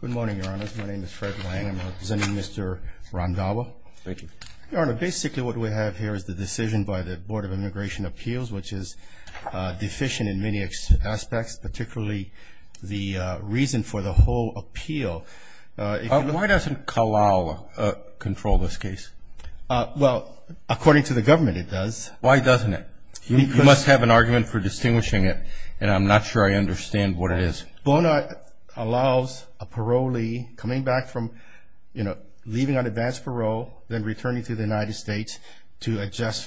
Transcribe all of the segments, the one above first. Good morning, Your Honor. My name is Fred Lang. I'm representing Mr. Rondhawa. Thank you. Your Honor, basically what we have here is the decision by the Board of Immigration Appeals, which is deficient in many aspects, particularly the reason for the whole appeal. Why doesn't Kalal control this case? Well, according to the government, it does. Why doesn't it? You must have an argument for distinguishing it, and I'm not sure I understand what it is. Bona allows a parolee coming back from, you know, leaving on advance parole, then returning to the United States to adjust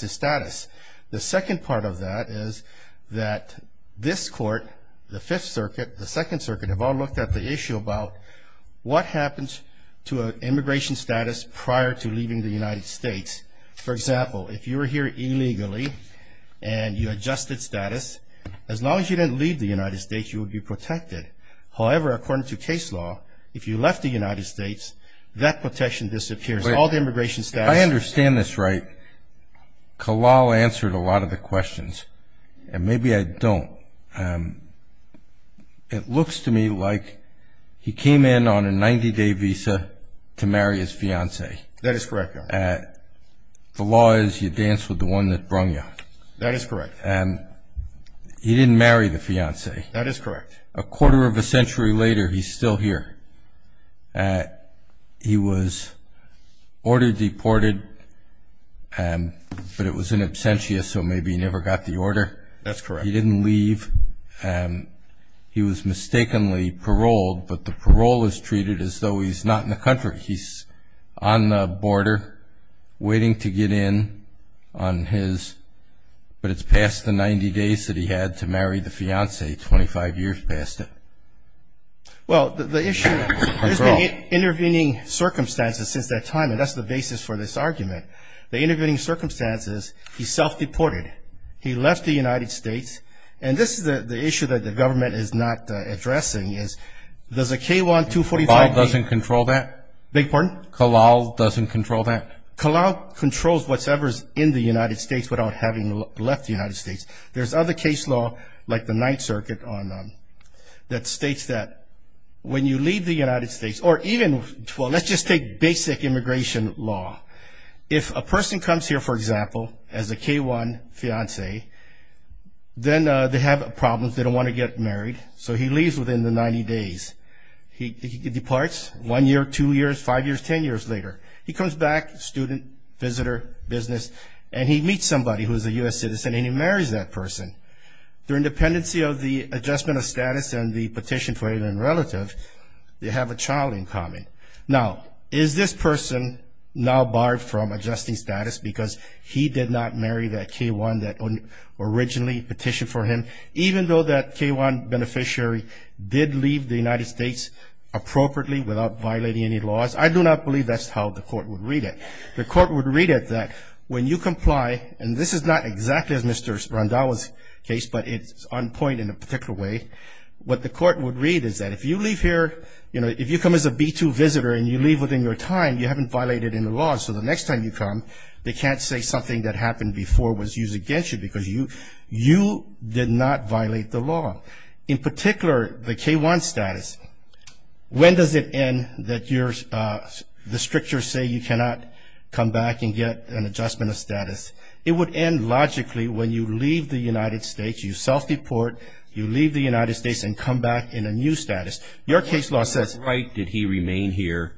his status. The second part of that is that this Court, the Fifth Circuit, the Second Circuit, have all looked at the issue about what happens to an immigration status prior to leaving the United States. For example, if you were here illegally and you adjusted status, as long as you didn't leave the United States, you would be protected. However, according to case law, if you left the United States, that protection disappears. All the immigration status... If I understand this right, Kalal answered a lot of the questions, and maybe I don't. It looks to me like he came in on a 90-day visa to marry his fiancée. That is correct, Your Honor. The law is you dance with the one that brung you. That is correct. He didn't marry the fiancée. That is correct. A quarter of a century later, he's still here. He was ordered deported, but it was an absentia, so maybe he never got the order. That's correct. He didn't leave. He was mistakenly paroled, but the parole is treated as though he's not in the country. He's on the border waiting to get in on his, but it's past the 90 days that he had to marry the fiancée, 25 years past it. Well, the issue is there's been intervening circumstances since that time, and that's the basis for this argument. The intervening circumstances, he self-deported. He left the United States. And this is the issue that the government is not addressing is does a K-1 245B... Beg your pardon? Kalal doesn't control that? Kalal controls whatever's in the United States without having left the United States. There's other case law, like the Ninth Circuit, that states that when you leave the United States, or even, well, let's just take basic immigration law. If a person comes here, for example, as a K-1 fiancée, then they have problems. They don't want to get married, so he leaves within the 90 days. He departs one year, two years, five years, ten years later. He comes back, student, visitor, business, and he meets somebody who is a U.S. citizen, and he marries that person. Through independency of the adjustment of status and the petition for alien relative, they have a child in common. Now, is this person now barred from adjusting status because he did not marry that K-1 that originally petitioned for him? Even though that K-1 beneficiary did leave the United States appropriately without violating any laws, I do not believe that's how the court would read it. The court would read it that when you comply, and this is not exactly as Mr. Randhawa's case, but it's on point in a particular way. What the court would read is that if you leave here, you know, if you come as a B-2 visitor and you leave within your time, you haven't violated any laws. So the next time you come, they can't say something that happened before was used against you because you did not violate the law. In particular, the K-1 status, when does it end that the strictures say you cannot come back and get an adjustment of status? It would end logically when you leave the United States, you self-deport, you leave the United States and come back in a new status. Your case law says... On what right did he remain here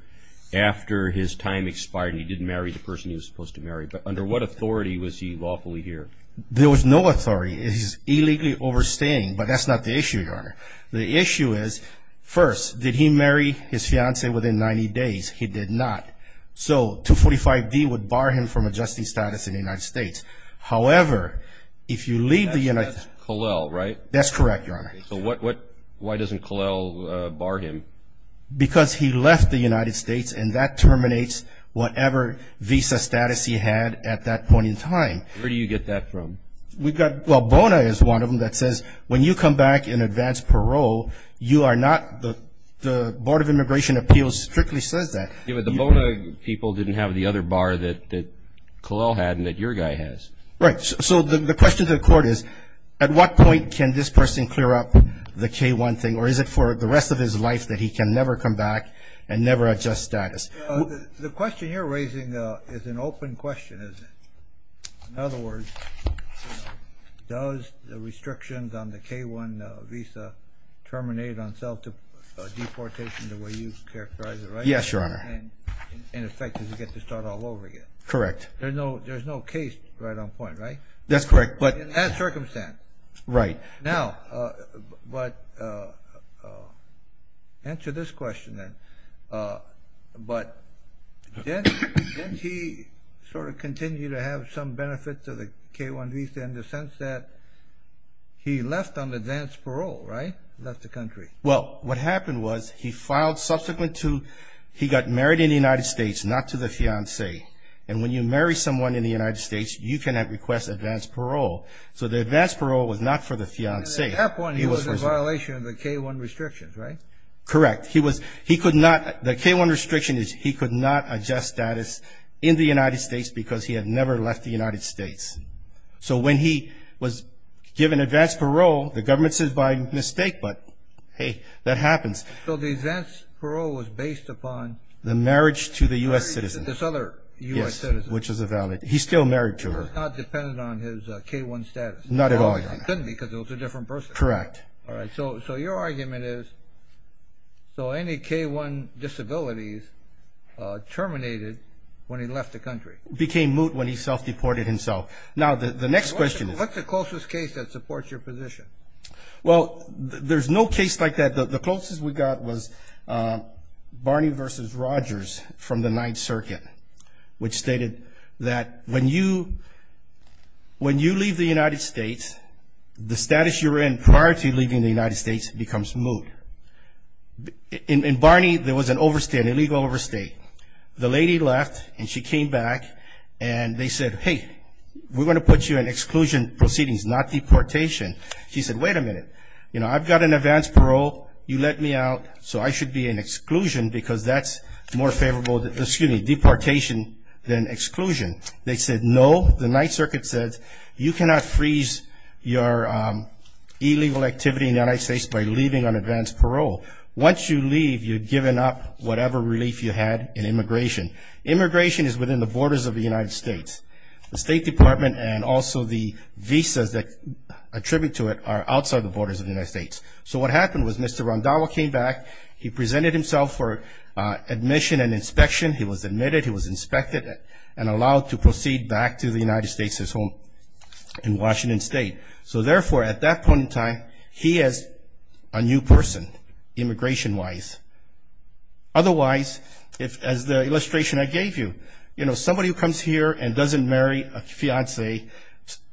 after his time expired and he didn't marry the person he was supposed to marry? But under what authority was he lawfully here? There was no authority. He's illegally overstaying, but that's not the issue, Your Honor. The issue is, first, did he marry his fiancée within 90 days? He did not. So 245D would bar him from adjusting status in the United States. However, if you leave the United States... That's Collel, right? That's correct, Your Honor. So why doesn't Collel bar him? Because he left the United States, and that terminates whatever visa status he had at that point in time. Where do you get that from? Well, BONA is one of them that says when you come back in advance parole, the Board of Immigration Appeals strictly says that. Yeah, but the BONA people didn't have the other bar that Collel had and that your guy has. Right. So the question to the Court is, at what point can this person clear up the K-1 thing, or is it for the rest of his life that he can never come back and never adjust status? The question you're raising is an open question, isn't it? In other words, does the restrictions on the K-1 visa terminate on self-deportation the way you characterize it, right? Yes, Your Honor. And, in effect, does he get to start all over again? Correct. There's no case right on point, right? That's correct. In that circumstance. Right. Now, answer this question then. But didn't he sort of continue to have some benefit to the K-1 visa in the sense that he left on advance parole, right? Left the country. Well, what happened was he got married in the United States, not to the fiancée. And when you marry someone in the United States, you cannot request advance parole. So the advance parole was not for the fiancée. At that point, he was in violation of the K-1 restrictions, right? Correct. He could not – the K-1 restriction is he could not adjust status in the United States because he had never left the United States. So when he was given advance parole, the government says by mistake, but, hey, that happens. So the advance parole was based upon? The marriage to the U.S. citizen. This other U.S. citizen. Yes, which is valid. He's still married to her. It was not dependent on his K-1 status. Not at all. It couldn't be because it was a different person. Correct. All right. So your argument is so any K-1 disabilities terminated when he left the country. Became moot when he self-deported himself. Now, the next question is? What's the closest case that supports your position? Well, there's no case like that. The closest we got was Barney v. Rogers from the Ninth Circuit, which stated that when you leave the United States, the status you're in prior to leaving the United States becomes moot. In Barney, there was an overstate, an illegal overstate. The lady left and she came back and they said, hey, we're going to put you in exclusion proceedings, not deportation. She said, wait a minute. You know, I've got an advance parole. You let me out, so I should be in exclusion because that's more favorable, excuse me, deportation than exclusion. They said no. The Ninth Circuit said you cannot freeze your illegal activity in the United States by leaving on advance parole. Once you leave, you're giving up whatever relief you had in immigration. Immigration is within the borders of the United States. The State Department and also the visas that attribute to it are outside the borders of the United States. So what happened was Mr. Randhawa came back. He presented himself for admission and inspection. He was admitted. He was inspected and allowed to proceed back to the United States, his home in Washington State. So, therefore, at that point in time, he is a new person immigration-wise. Otherwise, as the illustration I gave you, you know, somebody who comes here and doesn't marry a fiancée,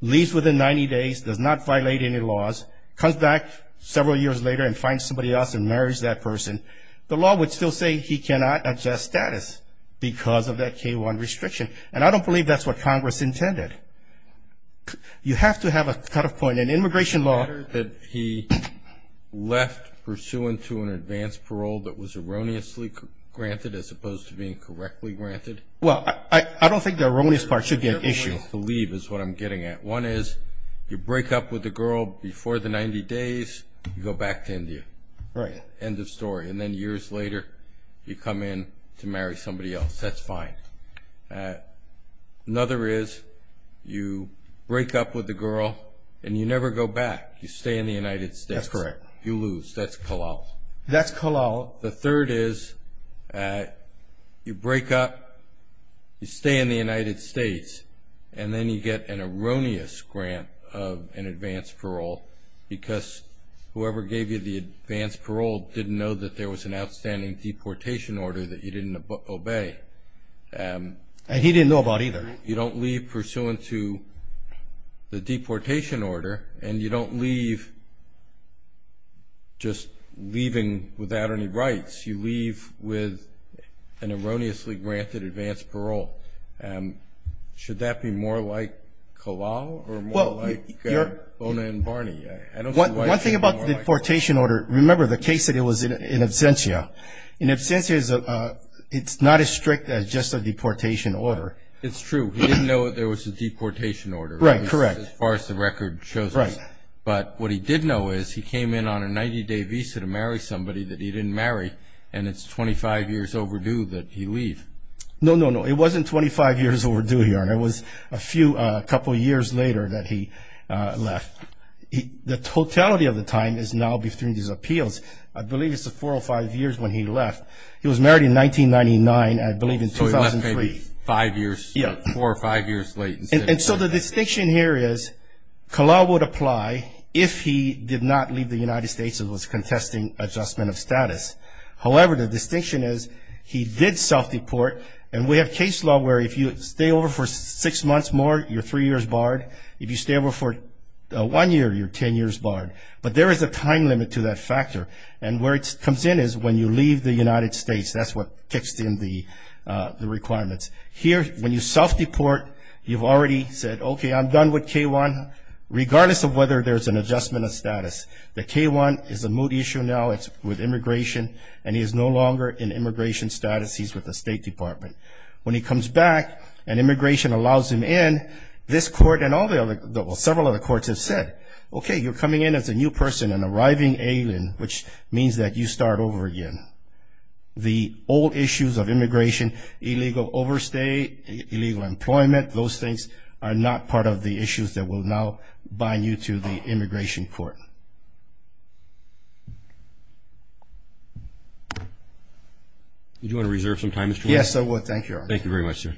leaves within 90 days, does not violate any laws, comes back several years later and finds somebody else and marries that person, the law would still say he cannot adjust status because of that K-1 restriction. And I don't believe that's what Congress intended. You have to have a cutoff point. In immigration law he left pursuant to an advance parole that was erroneously granted as opposed to being correctly granted. Well, I don't think the erroneous part should be an issue. Erroneous to leave is what I'm getting at. One is you break up with the girl before the 90 days, you go back to India. Right. End of story. And then years later you come in to marry somebody else. That's fine. Another is you break up with the girl and you never go back. You stay in the United States. That's correct. You lose. That's kalal. That's kalal. The third is you break up, you stay in the United States, and then you get an erroneous grant of an advance parole because whoever gave you the advance parole didn't know that there was an outstanding deportation order that you didn't obey. And he didn't know about either. You don't leave pursuant to the deportation order and you don't leave just leaving without any rights. You leave with an erroneously granted advance parole. Should that be more like kalal or more like Bona and Barney? One thing about the deportation order, remember the case that it was in absentia. In absentia it's not as strict as just a deportation order. It's true. He didn't know there was a deportation order. Right, correct. As far as the record shows us. Right. But what he did know is he came in on a 90-day visa to marry somebody that he didn't marry, and it's 25 years overdue that he leave. No, no, no. It wasn't 25 years overdue, Your Honor. It was a couple years later that he left. The totality of the time is now between these appeals. I believe it's the four or five years when he left. He was married in 1999 and I believe in 2003. So he left maybe four or five years late. And so the distinction here is kalal would apply if he did not leave the United States and was contesting adjustment of status. However, the distinction is he did self-deport, and we have case law where if you stay over for six months more, you're three years barred. If you stay over for one year, you're ten years barred. But there is a time limit to that factor, and where it comes in is when you leave the United States. That's what kicks in the requirements. Here, when you self-deport, you've already said, okay, I'm done with K-1, regardless of whether there's an adjustment of status. The K-1 is a moot issue now. It's with immigration, and he is no longer in immigration status. He's with the State Department. When he comes back and immigration allows him in, this court and several other courts have said, okay, you're coming in as a new person, an arriving alien, which means that you start over again. The old issues of immigration, illegal overstay, illegal employment, those things are not part of the issues that will now bind you to the immigration court. Do you want to reserve some time, Mr. Williams? Yes, I would. Thank you, Your Honor. Thank you very much, sir.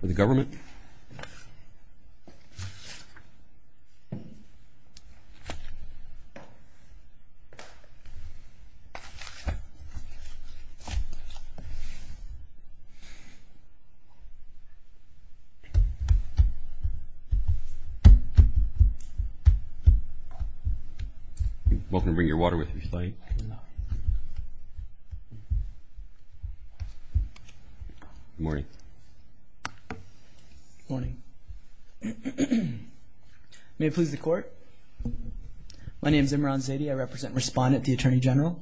For the government. Thank you. Welcome to bring your water with you, if you'd like. Good morning. Good morning. May it please the Court. My name is Imran Zaidi. I represent and respond at the Attorney General.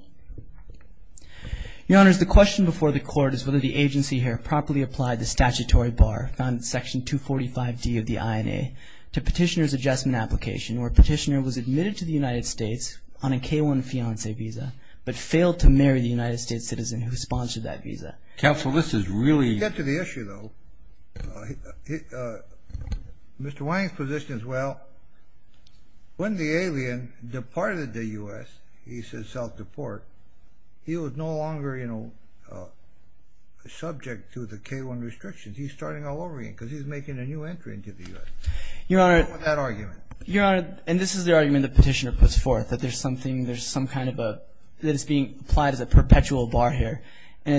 Your Honors, the question before the Court is whether the agency here properly applied the statutory bar found in Section 245D of the INA to petitioner's adjustment application, where a petitioner was admitted to the United States on a K-1 fiancé visa, but failed to marry the United States citizen who sponsored that visa. Counsel, this is really — To get to the issue, though, Mr. Wayne's position is, well, when the alien departed the U.S., he said self-deport, he was no longer, you know, subject to the K-1 restrictions. He's starting all over again because he's making a new entry into the U.S. Your Honor — That argument. Your Honor, and this is the argument the petitioner puts forth, that there's something, there's some kind of a — that it's being applied as a perpetual bar here. And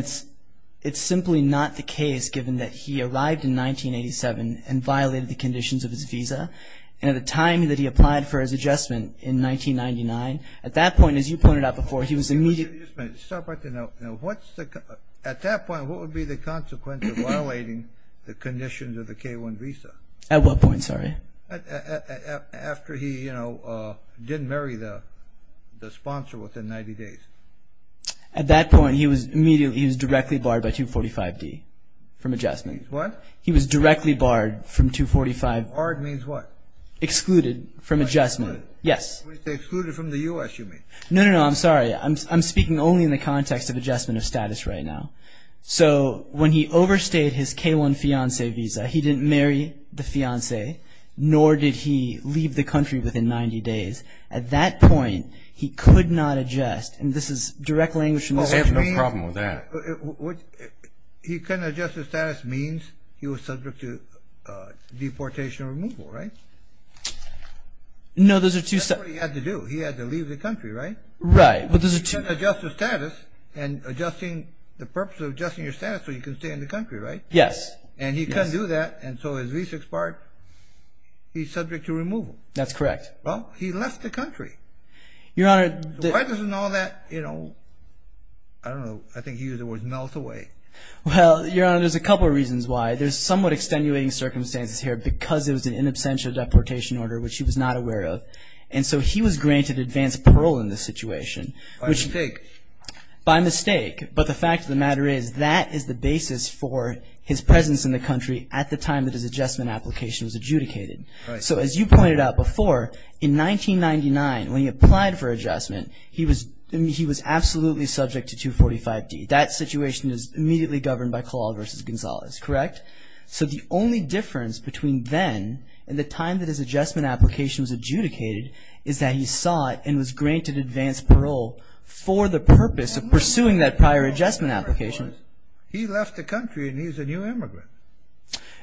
it's simply not the case, given that he arrived in 1987 and violated the conditions of his visa. And at the time that he applied for his adjustment in 1999, at that point, as you pointed out before, he was immediately — Just a minute. Stop right there. Now, what's the — at that point, what would be the consequence of violating the conditions of the K-1 visa? At what point? Sorry. After he, you know, didn't marry the sponsor within 90 days. At that point, he was immediately — he was directly barred by 245D from adjustment. Means what? He was directly barred from 245 — Barred means what? Excluded from adjustment. Yes. When you say excluded from the U.S., you mean? No, no, no. I'm sorry. I'm speaking only in the context of adjustment of status right now. So when he overstayed his K-1 fiancé visa, he didn't marry the fiancé, nor did he leave the country within 90 days. At that point, he could not adjust. And this is direct language from the Supreme Court. We have no problem with that. He couldn't adjust his status means he was subject to deportation or removal, right? No, those are two — That's what he had to do. He had to leave the country, right? Right. But those are two — He couldn't adjust his status and adjusting — the purpose of adjusting your status so you can stay in the country, right? Yes. And he couldn't do that, and so his visa expired. He's subject to removal. That's correct. Well, he left the country. Your Honor — Why doesn't all that, you know — I don't know. I think he used the word melt away. Well, Your Honor, there's a couple of reasons why. There's somewhat extenuating circumstances here because it was an in absentia deportation order, which he was not aware of. And so he was granted advance parole in this situation, which — By mistake. By mistake. But the fact of the matter is that is the basis for his presence in the country at the time that his adjustment application was adjudicated. Right. So as you pointed out before, in 1999, when he applied for adjustment, he was absolutely subject to 245D. That situation is immediately governed by Claude v. Gonzalez, correct? So the only difference between then and the time that his adjustment application was adjudicated is that he sought and was granted advance parole for the purpose of pursuing that prior adjustment application. He left the country, and he's a new immigrant.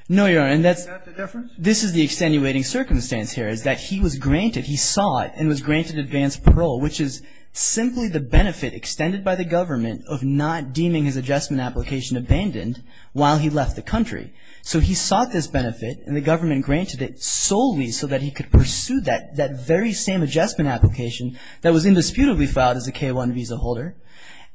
No, Your Honor, and that's — Is that the difference? This is the extenuating circumstance here, is that he was granted — he sought and was granted advance parole, which is simply the benefit extended by the government of not deeming his adjustment application abandoned while he left the country. So he sought this benefit, and the government granted it solely so that he could pursue that very same adjustment application that was indisputably filed as a K-1 visa holder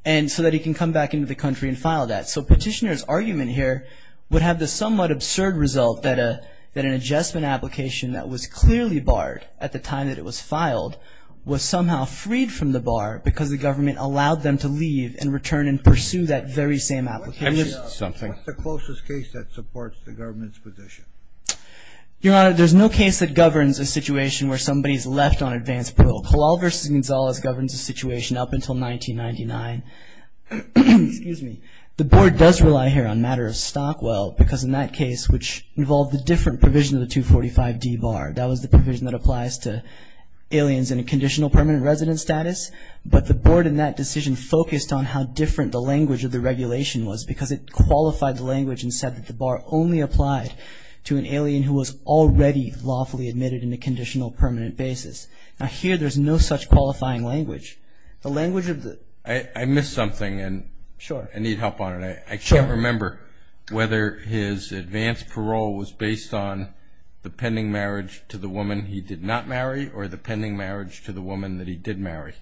and so that he can come back into the country and file that. So Petitioner's argument here would have the somewhat absurd result that an adjustment application that was clearly barred at the time that it was filed was somehow freed from the bar because the government allowed them to leave and return and pursue that very same application. I missed something. What's the closest case that supports the government's position? Your Honor, there's no case that governs a situation where somebody's left on advance parole. Claude v. Gonzalez governs a situation up until 1999. Excuse me. The Board does rely here on matters of Stockwell because in that case, which involved a different provision of the 245D bar, that was the provision that applies to aliens in a conditional permanent resident status, but the Board in that decision focused on how different the language of the regulation was because it qualified the language and said that the bar only applied to an alien who was already lawfully admitted in a conditional permanent basis. Now here, there's no such qualifying language. I missed something and I need help on it. I can't remember whether his advance parole was based on the pending marriage to the woman he did not marry or the pending marriage to the woman that he did marry.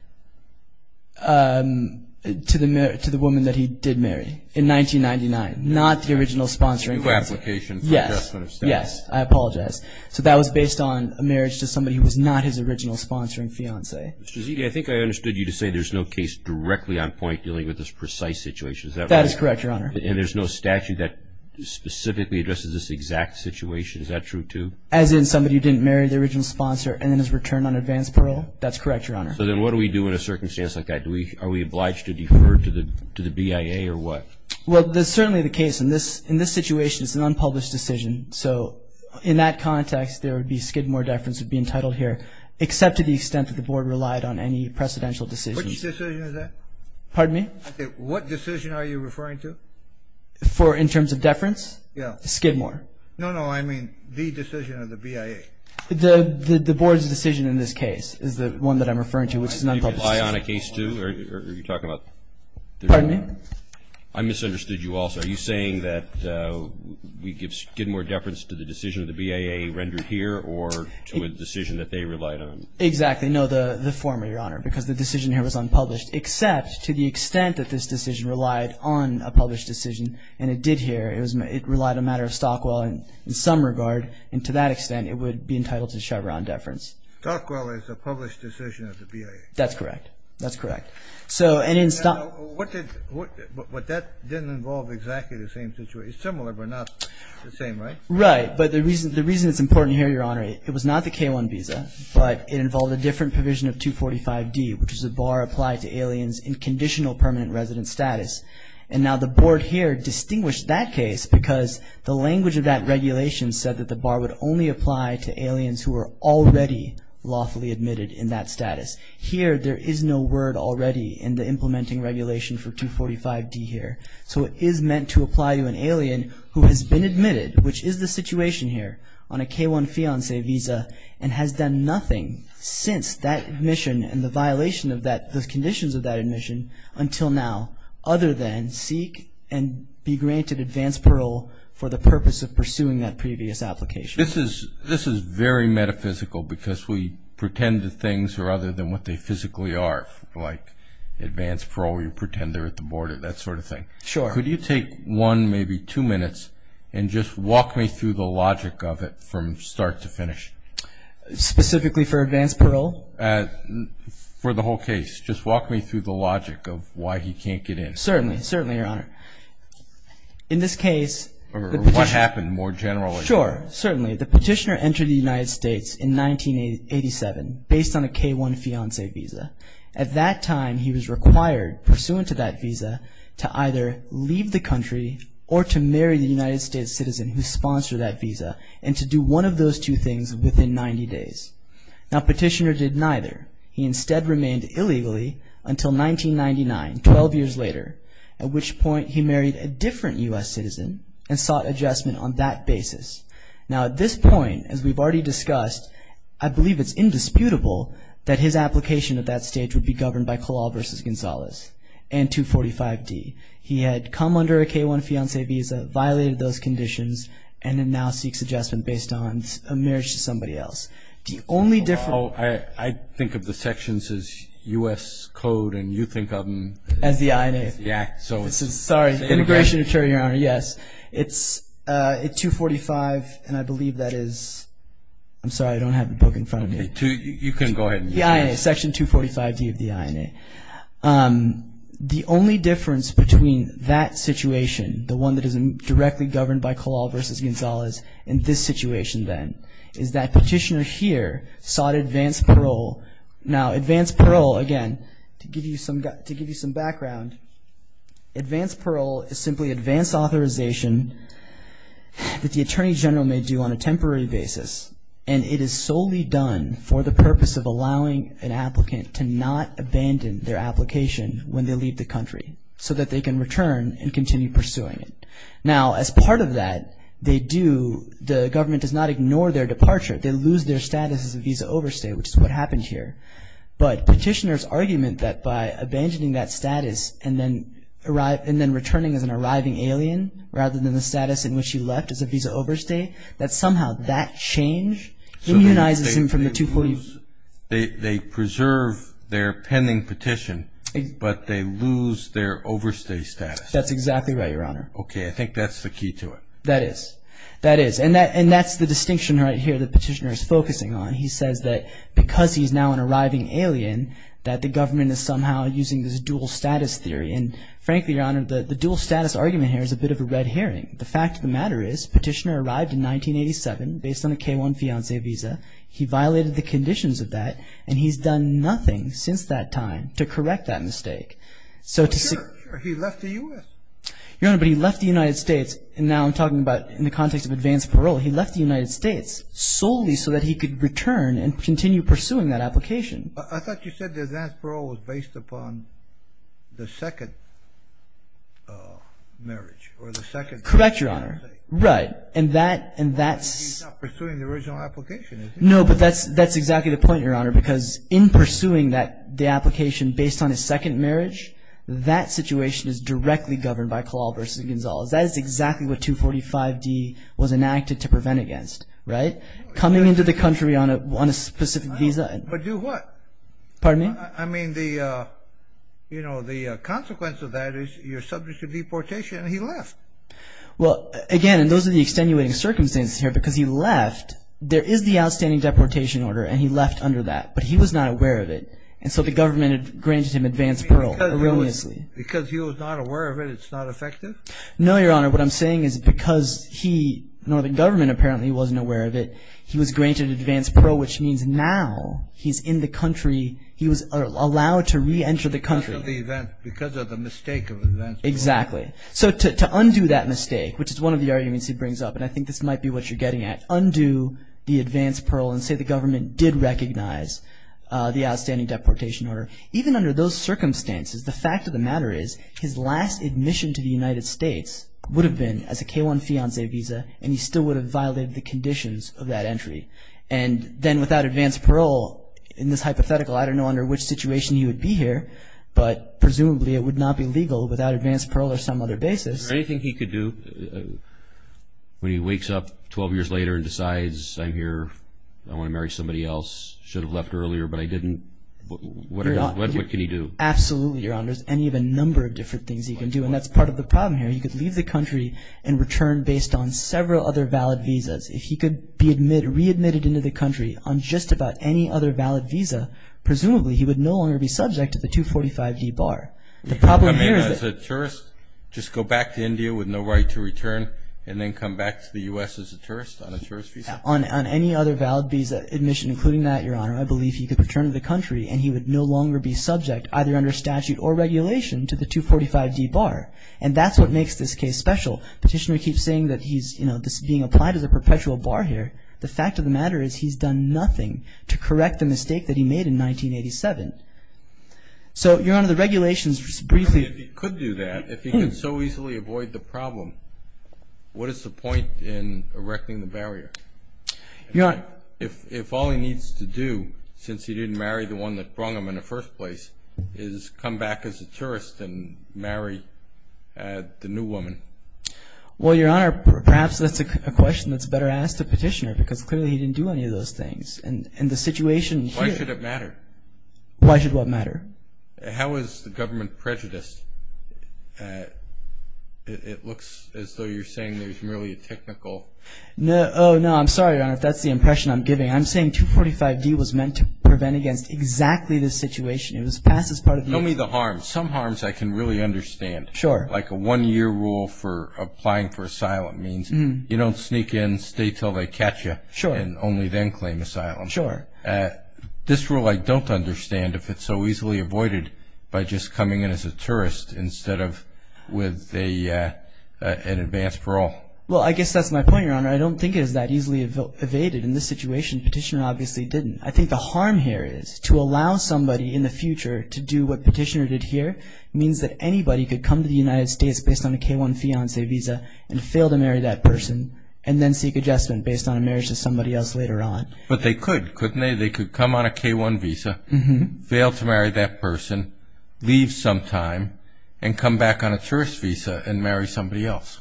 To the woman that he did marry in 1999, not the original sponsoring fiancée. Yes, I apologize. So that was based on a marriage to somebody who was not his original sponsoring fiancée. Mr. Zia, I think I understood you to say there's no case directly on point dealing with this precise situation. Is that right? That is correct, Your Honor. And there's no statute that specifically addresses this exact situation. Is that true, too? As in somebody who didn't marry the original sponsor and then has returned on advance parole? That's correct, Your Honor. So then what do we do in a circumstance like that? Are we obliged to defer to the BIA or what? Well, that's certainly the case. In this situation, it's an unpublished decision. So in that context, there would be skid more deference would be entitled here, except to the extent that the Board relied on any precedential decisions. Which decision is that? Pardon me? Okay, what decision are you referring to? For in terms of deference? Yeah. Skid more. No, no, I mean the decision of the BIA. The Board's decision in this case is the one that I'm referring to, which is an unpublished decision. Are you going to rely on a case, too, or are you talking about? Pardon me? I misunderstood you also. Are you saying that we give skid more deference to the decision of the BIA rendered here or to a decision that they relied on? Exactly. No, the former, Your Honor, because the decision here was unpublished, except to the extent that this decision relied on a published decision, and it did here. It relied on a matter of Stockwell in some regard, and to that extent it would be entitled to Chevron deference. Stockwell is a published decision of the BIA. That's correct. That's correct. But that didn't involve exactly the same situation. It's similar, but not the same, right? Right, but the reason it's important here, Your Honor, it was not the K-1 visa, but it involved a different provision of 245D, which is a bar applied to aliens in conditional permanent resident status. And now the Board here distinguished that case because the language of that regulation said that the bar would only apply to aliens who were already lawfully admitted in that status. Here there is no word already in the implementing regulation for 245D here. So it is meant to apply to an alien who has been admitted, which is the situation here, on a K-1 fiancé visa, and has done nothing since that admission and the violation of that, the conditions of that admission until now, other than seek and be granted advance parole for the purpose of pursuing that previous application. This is very metaphysical because we pretend that things are other than what they physically are, like advance parole, you pretend they're at the border, that sort of thing. Sure. Could you take one, maybe two minutes, and just walk me through the logic of it from start to finish? Specifically for advance parole? For the whole case. Just walk me through the logic of why he can't get in. Certainly, certainly, Your Honor. In this case... Or what happened more generally. Sure, certainly. The petitioner entered the United States in 1987 based on a K-1 fiancé visa. At that time he was required, pursuant to that visa, to either leave the country or to marry the United States citizen who sponsored that visa, and to do one of those two things within 90 days. Now petitioner did neither. He instead remained illegally until 1999, 12 years later, at which point he married a different U.S. citizen and sought adjustment on that basis. Now at this point, as we've already discussed, I believe it's indisputable that his application at that stage would be governed by Kalal v. Gonzalez and 245D. He had come under a K-1 fiancé visa, violated those conditions, and now seeks adjustment based on a marriage to somebody else. The only difference... I think of the sections as U.S. code and you think of them... As the INA. Yeah, so... Sorry, Immigration Attorney, Your Honor, yes. It's 245, and I believe that is... I'm sorry, I don't have the book in front of me. You can go ahead. The INA, Section 245D of the INA. The only difference between that situation, the one that is directly governed by Kalal v. Gonzalez, and this situation then, is that petitioner here sought advanced parole. Now, advanced parole, again, to give you some background, advanced parole is simply advanced authorization that the Attorney General may do on a temporary basis, and it is solely done for the purpose of allowing an applicant to not abandon their application when they leave the country, so that they can return and continue pursuing it. Now, as part of that, they do... The government does not ignore their departure. They lose their status as a visa overstay, which is what happened here. But petitioner's argument that by abandoning that status and then returning as an arriving alien, rather than the status in which he left as a visa overstay, that somehow that change immunizes him from the 245... So they preserve their pending petition, but they lose their overstay status. That's exactly right, Your Honor. Okay, I think that's the key to it. That is. That is. And that's the distinction right here that petitioner is focusing on. He says that because he's now an arriving alien, that the government is somehow using this dual status theory. And frankly, Your Honor, the dual status argument here is a bit of a red herring. The fact of the matter is petitioner arrived in 1987 based on a K-1 fiancé visa. He violated the conditions of that, and he's done nothing since that time to correct that mistake. Sure, sure. He left the U.S. Your Honor, but he left the United States. Now I'm talking about in the context of advance parole. He left the United States solely so that he could return and continue pursuing that application. I thought you said the advance parole was based upon the second marriage or the second... Correct, Your Honor. Right. And that's... He's not pursuing the original application, is he? No, but that's exactly the point, Your Honor, because in pursuing the application based on his second marriage, that situation is directly governed by Kalal v. Gonzalez. That is exactly what 245D was enacted to prevent against, right? Coming into the country on a specific visa... But do what? Pardon me? I mean, you know, the consequence of that is you're subject to deportation, and he left. Well, again, and those are the extenuating circumstances here because he left. There is the outstanding deportation order, and he left under that, but he was not aware of it. And so the government granted him advance parole erroneously. Because he was not aware of it, it's not effective? No, Your Honor. What I'm saying is because he, the northern government apparently wasn't aware of it, he was granted advance parole, which means now he's in the country. He was allowed to reenter the country. Because of the event, because of the mistake of advance parole. Exactly. So to undo that mistake, which is one of the arguments he brings up, and I think this might be what you're getting at, undo the advance parole and say the government did recognize the outstanding deportation order. Even under those circumstances, the fact of the matter is his last admission to the United States would have been as a K-1 fiancé visa, and he still would have violated the conditions of that entry. And then without advance parole, in this hypothetical, I don't know under which situation he would be here, but presumably it would not be legal without advance parole or some other basis. Is there anything he could do when he wakes up 12 years later and decides I'm here, I want to marry somebody else, should have left earlier, but I didn't? What can he do? Absolutely, Your Honor. There's any of a number of different things he can do, and that's part of the problem here. He could leave the country and return based on several other valid visas. If he could be readmitted into the country on just about any other valid visa, presumably he would no longer be subject to the 245D bar. As a tourist, just go back to India with no right to return and then come back to the U.S. as a tourist on a tourist visa? On any other valid visa admission, including that, Your Honor, I believe he could return to the country and he would no longer be subject, either under statute or regulation, to the 245D bar. And that's what makes this case special. Petitioner keeps saying that he's, you know, this is being applied as a perpetual bar here. The fact of the matter is he's done nothing to correct the mistake that he made in 1987. So, Your Honor, the regulations briefly. If he could do that, if he could so easily avoid the problem, what is the point in erecting the barrier? Your Honor. If all he needs to do, since he didn't marry the one that brung him in the first place, is come back as a tourist and marry the new woman. Well, Your Honor, perhaps that's a question that's better asked of Petitioner because clearly he didn't do any of those things. And the situation here. Why should it matter? Why should what matter? How is the government prejudiced? It looks as though you're saying there's merely a technical. Oh, no. I'm sorry, Your Honor, if that's the impression I'm giving. I'm saying 245D was meant to prevent against exactly this situation. It was passed as part of the. Tell me the harms. Some harms I can really understand. Sure. Like a one-year rule for applying for asylum means you don't sneak in, stay until they catch you. Sure. And only then claim asylum. Sure. This rule I don't understand if it's so easily avoided by just coming in as a tourist instead of with an advanced parole. Well, I guess that's my point, Your Honor. I don't think it is that easily evaded in this situation. Petitioner obviously didn't. I think the harm here is to allow somebody in the future to do what Petitioner did here means that anybody could come to the United States based on a K-1 fiancé visa and fail to marry that person and then seek adjustment based on a marriage to somebody else later on. But they could, couldn't they? They could come on a K-1 visa, fail to marry that person, leave sometime, and come back on a tourist visa and marry somebody else.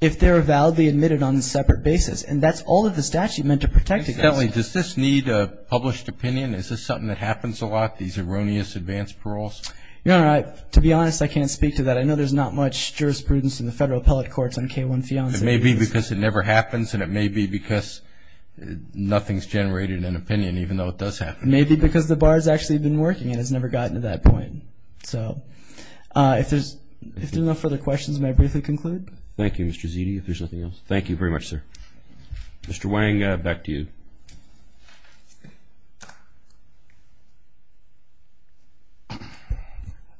If they're validly admitted on a separate basis. And that's all of the statute meant to protect against. Incidentally, does this need a published opinion? Is this something that happens a lot, these erroneous advanced paroles? Your Honor, to be honest, I can't speak to that. I know there's not much jurisprudence in the federal appellate courts on K-1 fiancé visas. It may be because it never happens and it may be because nothing's generated an opinion, even though it does happen. It may be because the bar's actually been working and it's never gotten to that point. So if there's enough further questions, may I briefly conclude? Thank you, Mr. Zitti. If there's nothing else, thank you very much, sir. Mr. Wang, back to you.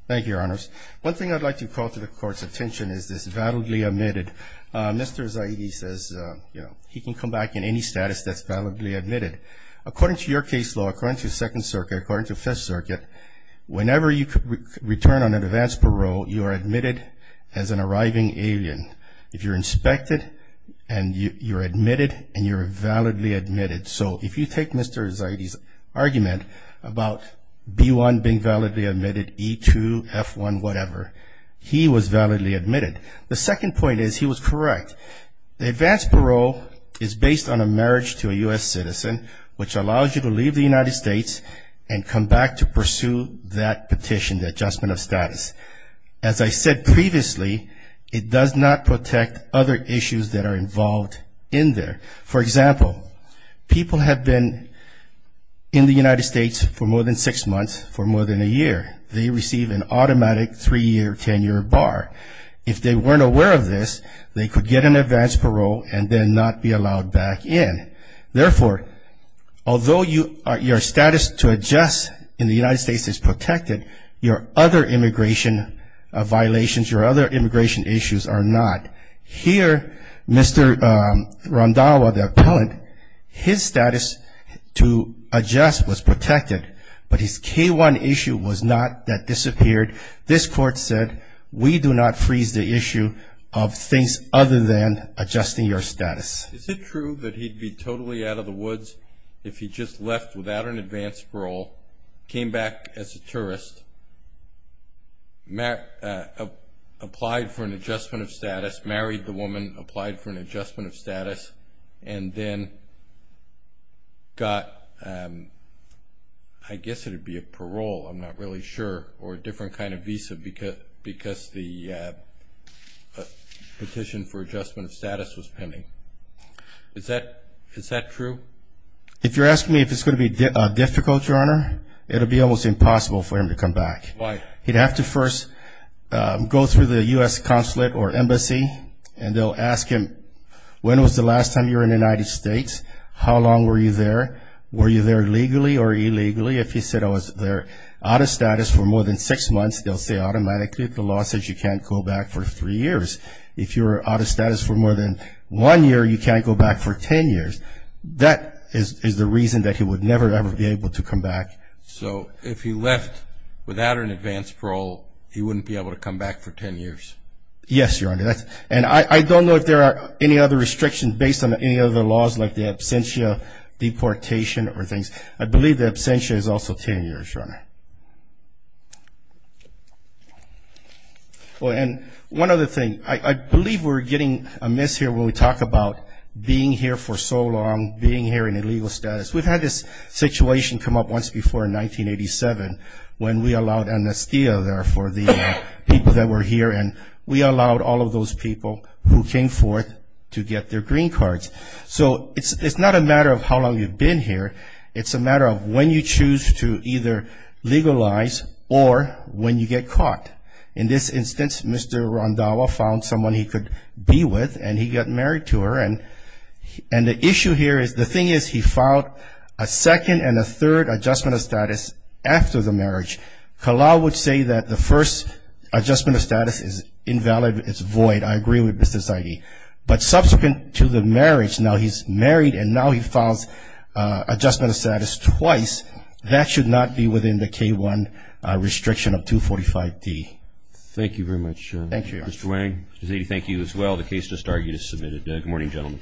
Thank you, Your Honors. One thing I'd like to call to the Court's attention is this validly admitted. Mr. Zitti says, you know, he can come back in any status that's validly admitted. According to your case law, according to Second Circuit, according to Fifth Circuit, whenever you return on an advanced parole, you are admitted as an arriving alien. If you're inspected and you're admitted and you're validly admitted. So if you take Mr. Zitti's argument about B-1 being validly admitted, E-2, F-1, whatever, he was validly admitted. The second point is he was correct. The advanced parole is based on a marriage to a U.S. citizen, which allows you to leave the United States and come back to pursue that petition, the adjustment of status. As I said previously, it does not protect other issues that are involved in there. For example, people have been in the United States for more than six months, for more than a year. They receive an automatic three-year tenure bar. If they weren't aware of this, they could get an advanced parole and then not be allowed back in. Therefore, although your status to adjust in the United States is protected, your other immigration violations, your other immigration issues are not. Here, Mr. Randhawa, the appellant, his status to adjust was protected, but his K-1 issue was not that disappeared. This court said, we do not freeze the issue of things other than adjusting your status. Is it true that he'd be totally out of the woods if he just left without an advanced parole, came back as a tourist, applied for an adjustment of status, married the woman, applied for an adjustment of status, and then got, I guess it would be a parole, I'm not really sure, or a different kind of visa because the petition for adjustment of status was pending? Is that true? If you're asking me if it's going to be difficult, Your Honor, it'll be almost impossible for him to come back. Why? He'd have to first go through the U.S. consulate or embassy, and they'll ask him, when was the last time you were in the United States? How long were you there? Were you there legally or illegally? If he said, I was there out of status for more than six months, they'll say automatically the law says you can't go back for three years. If you were out of status for more than one year, you can't go back for 10 years. That is the reason that he would never, ever be able to come back. So if he left without an advanced parole, he wouldn't be able to come back for 10 years? Yes, Your Honor. And I don't know if there are any other restrictions based on any other laws, like the absentia, deportation, or things. I believe the absentia is also 10 years, Your Honor. And one other thing, I believe we're getting amiss here when we talk about being here for so long, being here in illegal status. We've had this situation come up once before in 1987 when we allowed amnestia there for the people that were here, and we allowed all of those people who came forth to get their green cards. So it's not a matter of how long you've been here. It's a matter of when you choose to either legalize or when you get caught. In this instance, Mr. Rondawa found someone he could be with, and he got married to her. And the issue here is the thing is he filed a second and a third adjustment of status after the marriage. Kalaw would say that the first adjustment of status is invalid, it's void. I agree with Mr. Zaidi. But subsequent to the marriage, now he's married and now he files adjustment of status twice. That should not be within the K-1 restriction of 245-D. Thank you very much. Thank you, Your Honor. Mr. Wang, Mr. Zaidi, thank you as well. The case just argued is submitted. Good morning, gentlemen.